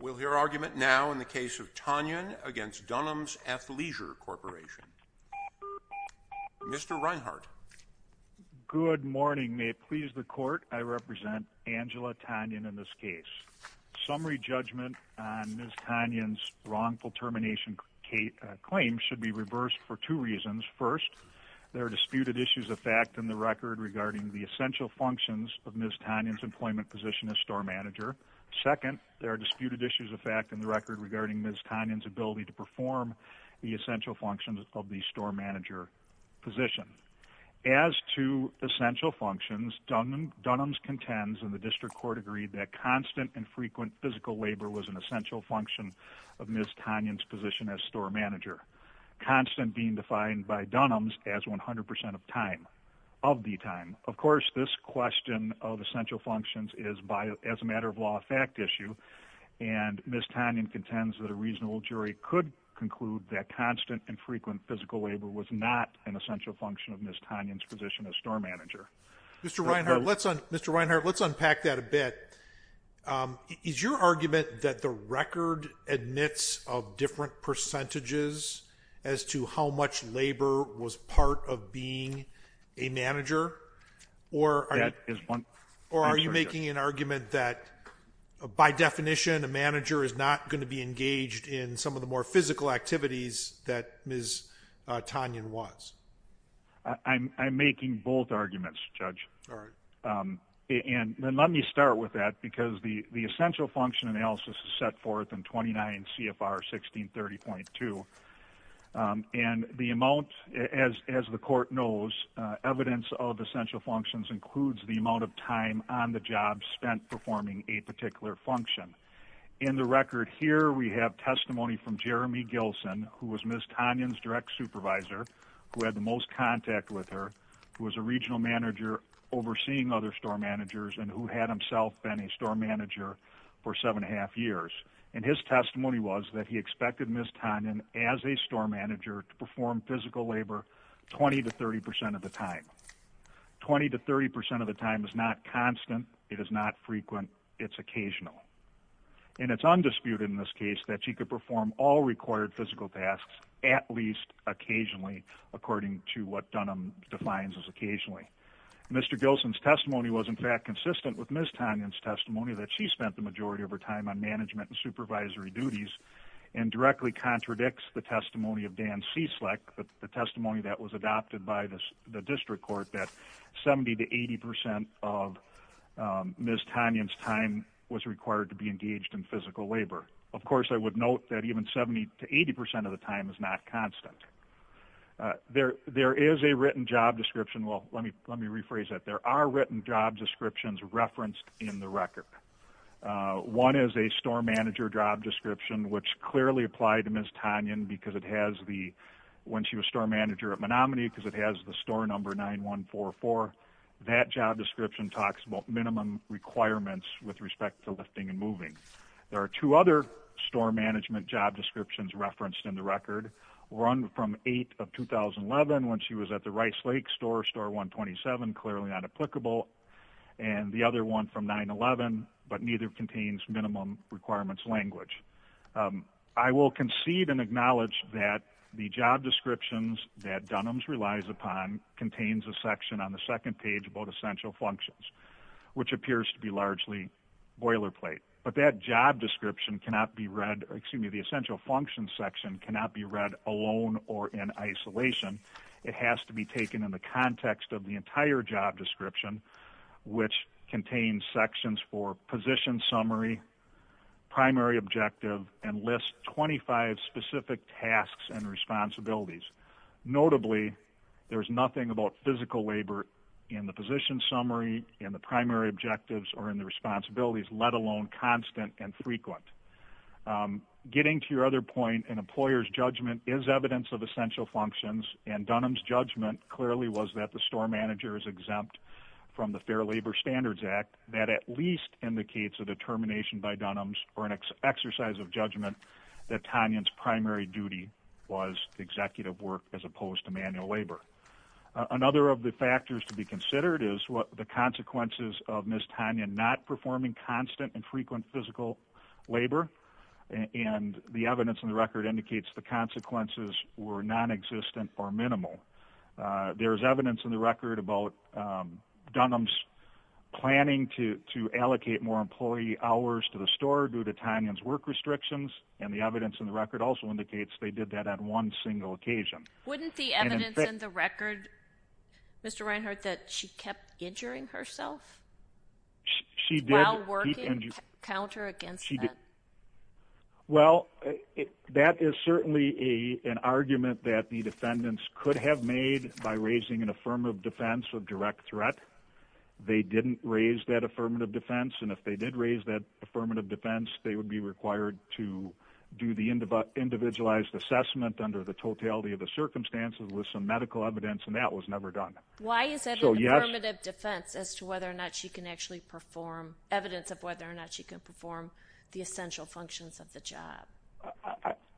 We'll hear argument now in the case of Tonyan v. Dunham's Athleisure Corporation. Mr. Reinhart. Good morning. May it please the Court, I represent Angela Tonyan in this case. Summary judgment on Ms. Tonyan's wrongful termination claim should be reversed for two reasons. First, there are disputed issues of fact in the record regarding the essential functions of Ms. Tonyan's employment position as store manager. Second, there are disputed issues of fact in the record regarding Ms. Tonyan's ability to perform the essential functions of the store manager position. As to essential functions, Dunham's contends, and the District Court agreed, that constant and frequent physical labor was an essential function of Ms. Tonyan's position as store manager. Constant being defined by Dunham's as 100% of the time. Of course, this question of essential functions is, as a matter of law, a fact issue, and Ms. Tonyan contends that a reasonable jury could conclude that constant and frequent physical labor was not an essential function of Ms. Tonyan's position as store manager. Mr. Reinhart, let's unpack that a bit. Is your argument that the record admits of different percentages as to how much labor was part of being a manager? Or are you making an argument that, by definition, a manager is not going to be engaged in some of the more physical activities that Ms. Tonyan was? I'm making both arguments, Judge. Let me start with that, because the essential function analysis is set forth in 29 CFR 1630.2. And the amount, as the Court knows, evidence of essential functions includes the amount of time on the job spent performing a particular function. In the record here, we have testimony from Jeremy Gilson, who was Ms. Tonyan's direct supervisor, who had the most contact with her, who was a regional manager overseeing other store managers, and who had himself been a store manager for seven and a half years. And his testimony was that he expected Ms. Tonyan, as a store manager, to perform physical labor 20 to 30% of the time. 20 to 30% of the time is not constant, it is not frequent, it's occasional. And it's undisputed in this case that she could perform all required physical tasks, at least occasionally, according to what Dunham defines as occasionally. Mr. Gilson's testimony was, in fact, consistent with Ms. Tonyan's testimony, that she spent the majority of her time on management and supervisory duties, and directly contradicts the testimony of Dan Cieslik, the testimony that was adopted by the District Court, that 70 to 80% of Ms. Tonyan's time was required to be engaged in physical labor. Of course, I would note that even 70 to 80% of the time is not constant. There is a written job description, well, let me rephrase that. There are written job descriptions referenced in the record. One is a store manager job description, which clearly applied to Ms. Tonyan, because it has the, when she was store manager at Menominee, because it has the store number 9144, that job description talks about minimum requirements with respect to lifting and moving. There are two other store management job descriptions referenced in the record. One from 8 of 2011, when she was at the Rice Lake store, store 127, clearly not applicable. And the other one from 9-11, but neither contains minimum requirements language. I will concede and acknowledge that the job descriptions that Dunham's relies upon contains a section on the second page about essential functions, which appears to be largely boilerplate. But that job description cannot be read, or excuse me, the essential functions section cannot be read alone or in isolation. It has to be taken in the context of the entire job description, which contains sections for position summary, primary objective, and lists 25 specific tasks and responsibilities. Notably, there is nothing about physical labor in the position summary, in the primary objectives, or in the responsibilities, let alone constant and frequent. Getting to your other point, an employer's judgment is evidence of essential functions, and Dunham's judgment clearly was that the store manager is exempt from the Fair Labor Standards Act. That at least indicates a determination by Dunham's or an exercise of judgment that Tanya's primary duty was executive work as opposed to manual labor. Another of the factors to be considered is the consequences of Ms. Tanya not performing constant and frequent physical labor, and the evidence in the record indicates the consequences were nonexistent or minimal. There is evidence in the record about Dunham's planning to allocate more employee hours to the store due to Tanya's work restrictions, and the evidence in the record also indicates they did that on one single occasion. Wouldn't the evidence in the record, Mr. Reinhart, that she kept injuring herself while working counter against that? Well, that is certainly an argument that the defendants could have made by raising an affirmative defense of direct threat. They didn't raise that affirmative defense, and if they did raise that affirmative defense, they would be required to do the individualized assessment under the totality of the circumstances with some medical evidence, and that was never done. Why is that an affirmative defense as to whether or not she can actually perform evidence of whether or not she can perform the essential functions of the job?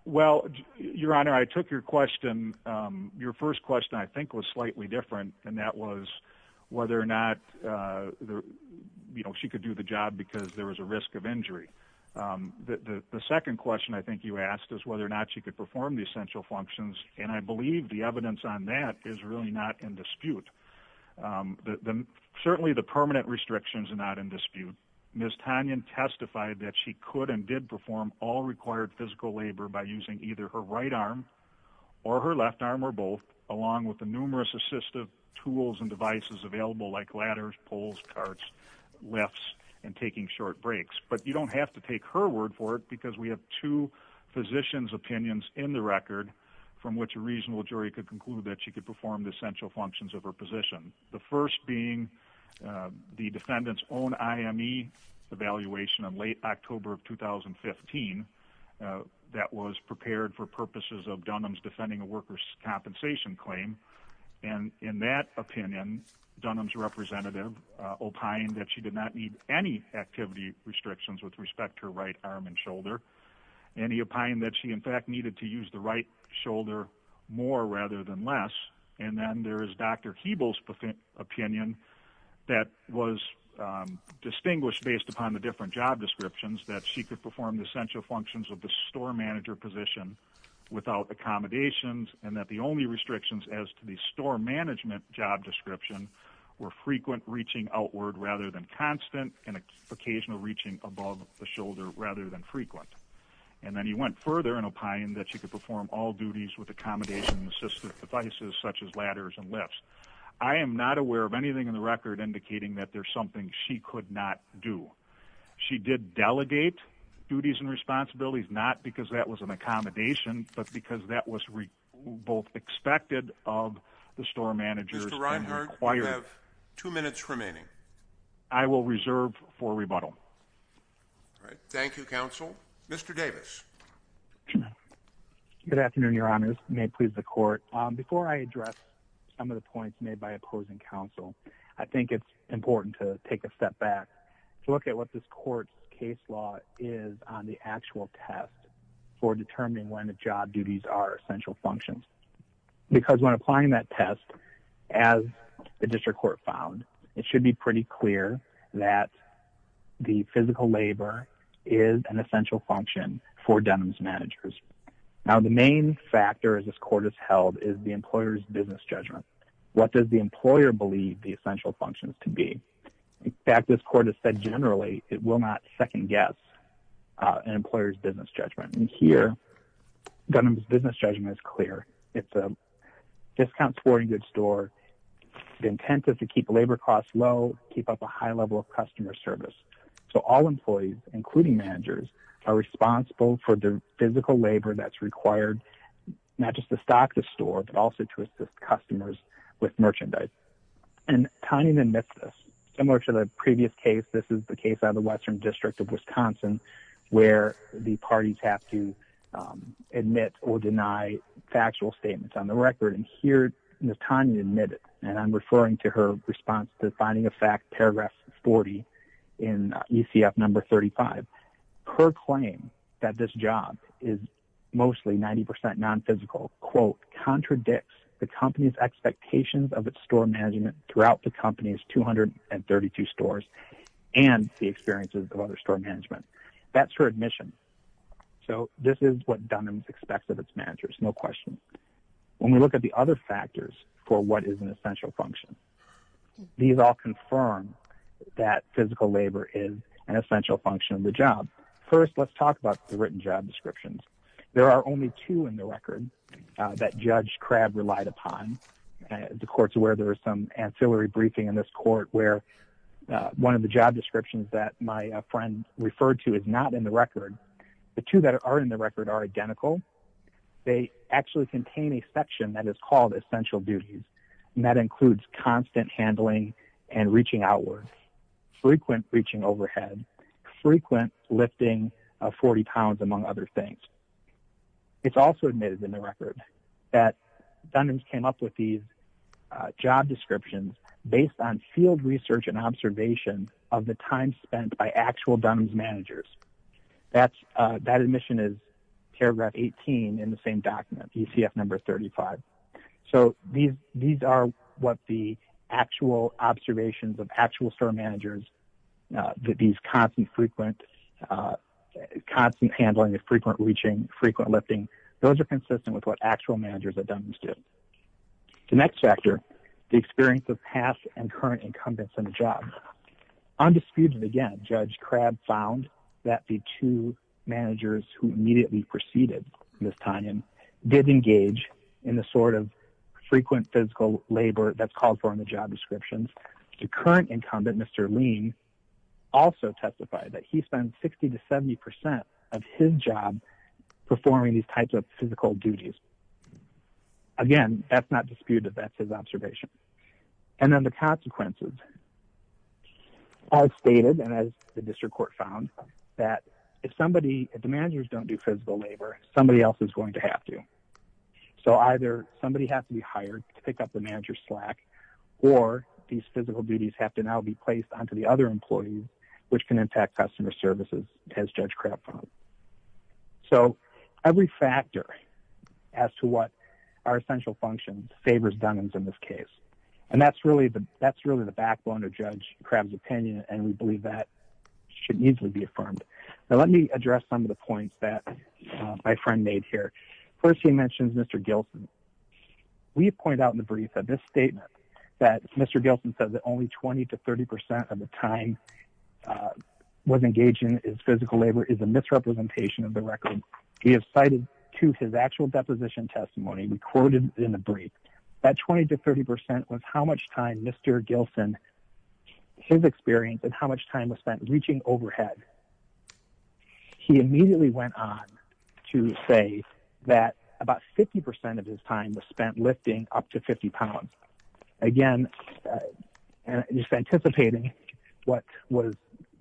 Well, Your Honor, I took your question. Your first question, I think, was slightly different, and that was whether or not she could do the job because there was a risk of injury. The second question I think you asked is whether or not she could perform the essential functions, and I believe the evidence on that is really not in dispute. Certainly the permanent restrictions are not in dispute. Ms. Tanyan testified that she could and did perform all required physical labor by using either her right arm or her left arm or both, along with the numerous assistive tools and devices available like ladders, poles, carts, lifts, and taking short breaks. But you don't have to take her word for it because we have two physicians' opinions in the record from which a reasonable jury could conclude that she could perform the essential functions of her position, the first being the defendant's own IME evaluation in late October of 2015 that was prepared for purposes of Dunham's defending a worker's compensation claim. And in that opinion, Dunham's representative opined that she did not need any activity restrictions with respect to her right arm and shoulder, and he opined that she, in fact, needed to use the right shoulder more rather than less. And then there is Dr. Keeble's opinion that was distinguished based upon the different job descriptions that she could perform the essential functions of the store manager position without accommodations and that the only restrictions as to the store management job description were frequent reaching outward rather than constant and occasional reaching above the shoulder rather than frequent. And then he went further and opined that she could perform all duties with accommodations and assistive devices such as ladders and lifts. I am not aware of anything in the record indicating that there's something she could not do. She did delegate duties and responsibilities, not because that was an accommodation, but because that was both expected of the store managers. Mr. Reinhart, you have two minutes remaining. I will reserve for rebuttal. All right. Thank you, counsel. Mr. Davis. Good afternoon, Your Honors. May it please the court. Before I address some of the points made by opposing counsel, I think it's important to take a step back to look at what this court's case law is on the actual test for determining when the job duties are essential functions. Because when applying that test, as the district court found, it should be pretty clear that the physical labor is an essential function for Dunham's managers. Now, the main factor, as this court has held, is the employer's business judgment. What does the employer believe the essential functions can be? In fact, this court has said generally it will not second guess an employer's business judgment. Here, Dunham's business judgment is clear. It's a discount toward a good store. The intent is to keep labor costs low, keep up a high level of customer service. So all employees, including managers, are responsible for the physical labor that's required, not just to stock the store, but also to assist customers with merchandise. And Tanya admits this. Similar to the previous case, this is the case out of the Western District of Wisconsin, where the parties have to admit or deny factual statements on the record. And here, Tanya admitted, and I'm referring to her response to the finding of fact, paragraph 40 in ECF number 35. Her claim that this job is mostly 90% nonphysical, quote, contradicts the company's expectations of its store management throughout the company's 232 stores and the experiences of other store management. That's her admission. So this is what Dunham expects of its managers, no question. When we look at the other factors for what is an essential function, these all confirm that physical labor is an essential function of the job. First, let's talk about the written job descriptions. There are only two in the record that Judge Crabb relied upon. The court's aware there was some ancillary briefing in this court where one of the job descriptions that my friend referred to is not in the record. The two that are in the record are identical. They actually contain a section that is called essential duties, and that includes constant handling and reaching outwards, frequent reaching overhead, frequent lifting of 40 pounds, among other things. It's also admitted in the record that Dunham came up with these job descriptions based on field research and observation of the time spent by actual Dunham's managers. That admission is paragraph 18 in the same document, ECF number 35. So these are what the actual observations of actual store managers, these constant handling of frequent reaching, frequent lifting, those are consistent with what actual managers at Dunham's do. The next factor, the experience of past and current incumbents on the job. Undisputed again, Judge Crabb found that the two managers who immediately preceded Ms. Dunham did engage in the sort of frequent physical labor that's called for in the job descriptions. The current incumbent, Mr. Lean, also testified that he spent 60 to 70% of his job performing these types of physical duties. Again, that's not disputed, that's his observation. And then the consequences. As stated, and as the district court found, that if somebody, if the managers don't do physical labor, somebody else is going to have to. So either somebody has to be hired to pick up the manager's slack, or these physical duties have to now be placed onto the other employees, which can impact customer services, as Judge Crabb found. So every factor as to what are essential functions favors Dunham's in this case. And that's really the backbone of Judge Crabb's opinion, and we believe that should easily be affirmed. Now let me address some of the points that my friend made here. First, he mentioned Mr. Gilson. We have pointed out in the brief that this statement that Mr. Gilson said that only 20 to 30% of the time was engaged in his physical labor is a misrepresentation of the record. We have cited to his actual deposition testimony, we quoted in the brief, that 20 to 30% was how much time Mr. Gilson, his experience, and how much time was spent reaching overhead. He immediately went on to say that about 50% of his time was spent lifting up to 50 pounds. Again, just anticipating what was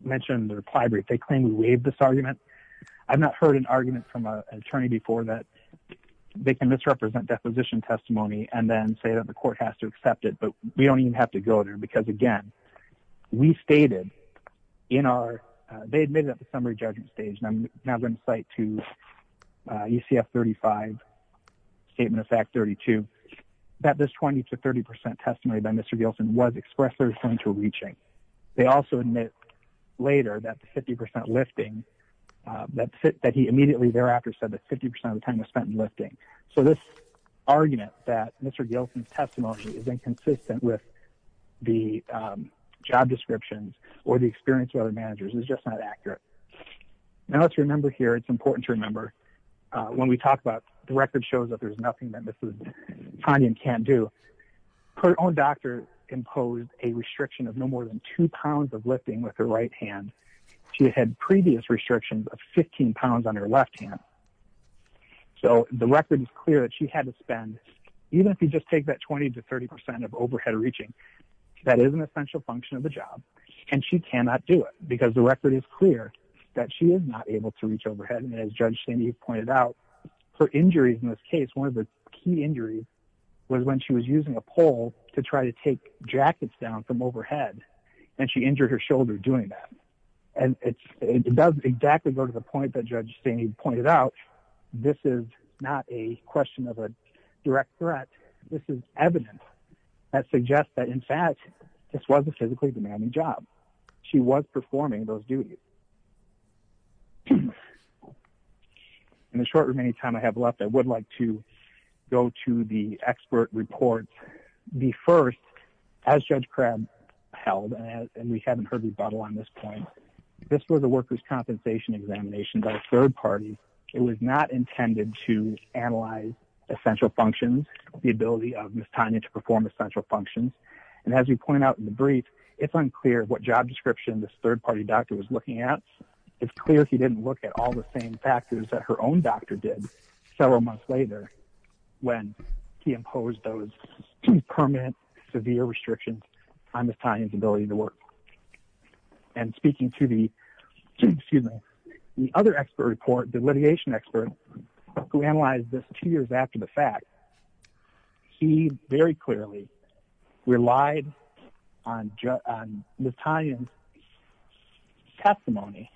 mentioned in the reply brief, they claim we waived this argument. I've not heard an argument from an attorney before that they can misrepresent deposition testimony and then say that the court has to accept it, but we don't even have to go there. They admitted at the summary judgment stage, and I'm now going to cite to UCF 35, Statement of Fact 32, that this 20 to 30% testimony by Mr. Gilson was expressly referring to reaching. They also admit later that the 50% lifting, that he immediately thereafter said that 50% of the time was spent in lifting. So this argument that Mr. Gilson's testimony is inconsistent with the job descriptions or the experience of other managers is just not accurate. Now let's remember here, it's important to remember, when we talk about the record shows that there's nothing that Mrs. Tanya can't do, her own doctor imposed a restriction of no more than two pounds of lifting with her right hand. She had previous restrictions of 15 pounds on her left hand. So the record is clear that she had to spend, even if you just take that 20 to 30% of overhead reaching, that is an essential function of the job. And she cannot do it because the record is clear that she is not able to reach overhead. And as Judge Staney pointed out, her injuries in this case, one of the key injuries was when she was using a pole to try to take jackets down from overhead, and she injured her shoulder doing that. And it does exactly go to the point that Judge Staney pointed out. This is not a question of a direct threat. This is evidence that suggests that, in fact, this was a physically demanding job. She was performing those duties. In the short remaining time I have left, I would like to go to the expert reports. The first, as Judge Crabb held, and we haven't heard rebuttal on this point, this was a workers' compensation examination by a third party. It was not intended to analyze essential functions, the ability of Mrs. Tanya to perform essential functions. And as we pointed out in the brief, it's unclear what job description this third party doctor was looking at. It's clear she didn't look at all the same factors that her own doctor did several months later when he imposed those permanent severe restrictions on Mrs. Tanya's ability to work. And speaking to the other expert report, the litigation expert who analyzed this two years after the fact, he very clearly relied on Mrs. Tanya's testimony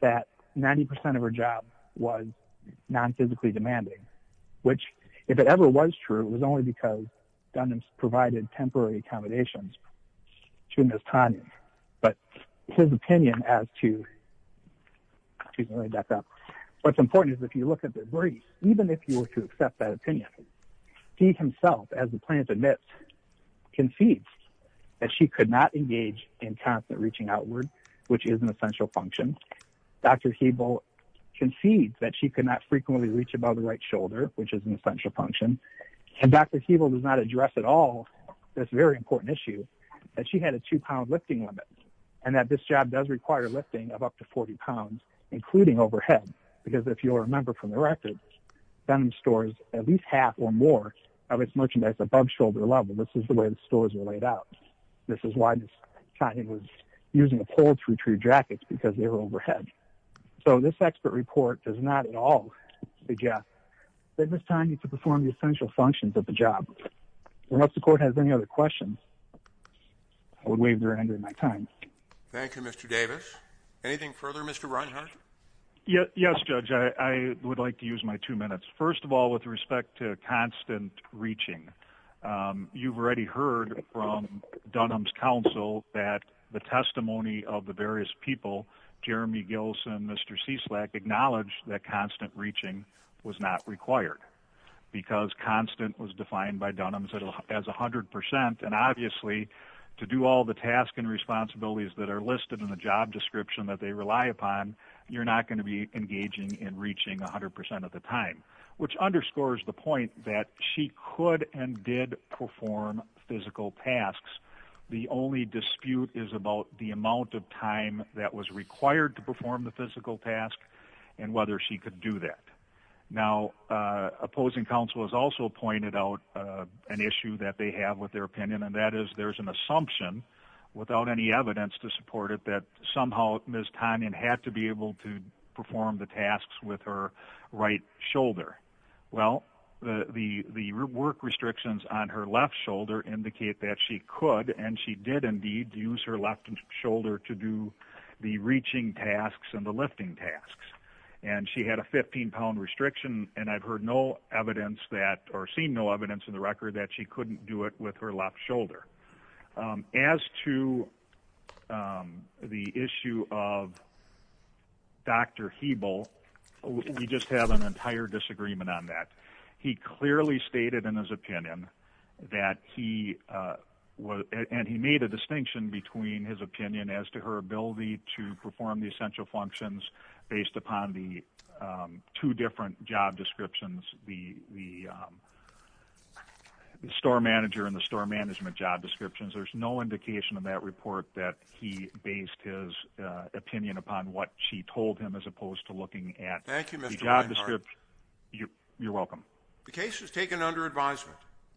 that 90 percent of her job was non-physically demanding, which, if it ever was true, was only because Dunham provided temporary accommodations. But his opinion as to what's important is if you look at the brief, even if you were to accept that opinion, he himself, as the plaintiff admits, concedes that she could not engage in constant reaching outward, which is an essential function. Dr. Hebel concedes that she could not frequently reach above the right shoulder, which is an essential function. And Dr. Hebel does not address at all this very important issue that she had a two-pound lifting limit and that this job does require lifting of up to 40 pounds, including overhead. Because if you'll remember from the record, Dunham stores at least half or more of its merchandise above shoulder level. This is the way the stores were laid out. And this is why Mrs. Tanya was using a pole to retrieve jackets, because they were overhead. So this expert report does not at all suggest that Mrs. Tanya could perform the essential functions of the job. And if the court has any other questions, I would waive their hand during my time. Thank you, Mr. Davis. Anything further, Mr. Reinhart? Yes, Judge. I would like to use my two minutes. First of all, with respect to constant reaching, you've already heard from Dunham's counsel that the testimony of the various people, Jeremy Gilson, Mr. Cieslak, acknowledged that constant reaching was not required because constant was defined by Dunham as 100%. And obviously, to do all the tasks and responsibilities that are listed in the job description that they rely upon, you're not going to be engaging in reaching 100% of the time, which underscores the point that she could and did perform physical tasks. The only dispute is about the amount of time that was required to perform the physical task and whether she could do that. Now, opposing counsel has also pointed out an issue that they have with their opinion, and that is there's an assumption, without any evidence to support it, that somehow Ms. Tanya had to be able to perform the tasks with her right shoulder. Well, the work restrictions on her left shoulder indicate that she could, and she did indeed use her left shoulder to do the reaching tasks and the lifting tasks. And she had a 15-pound restriction, and I've heard no evidence that, or seen no evidence in the record that she couldn't do it with her left shoulder. As to the issue of Dr. Hebel, we just have an entire disagreement on that. He clearly stated in his opinion that he was, and he made a distinction between his opinion as to her ability to perform the essential functions based upon the two different job descriptions, the store manager and the store management job descriptions. There's no indication in that report that he based his opinion upon what she told him as opposed to looking at the job description. You're welcome. The case is taken under advisement.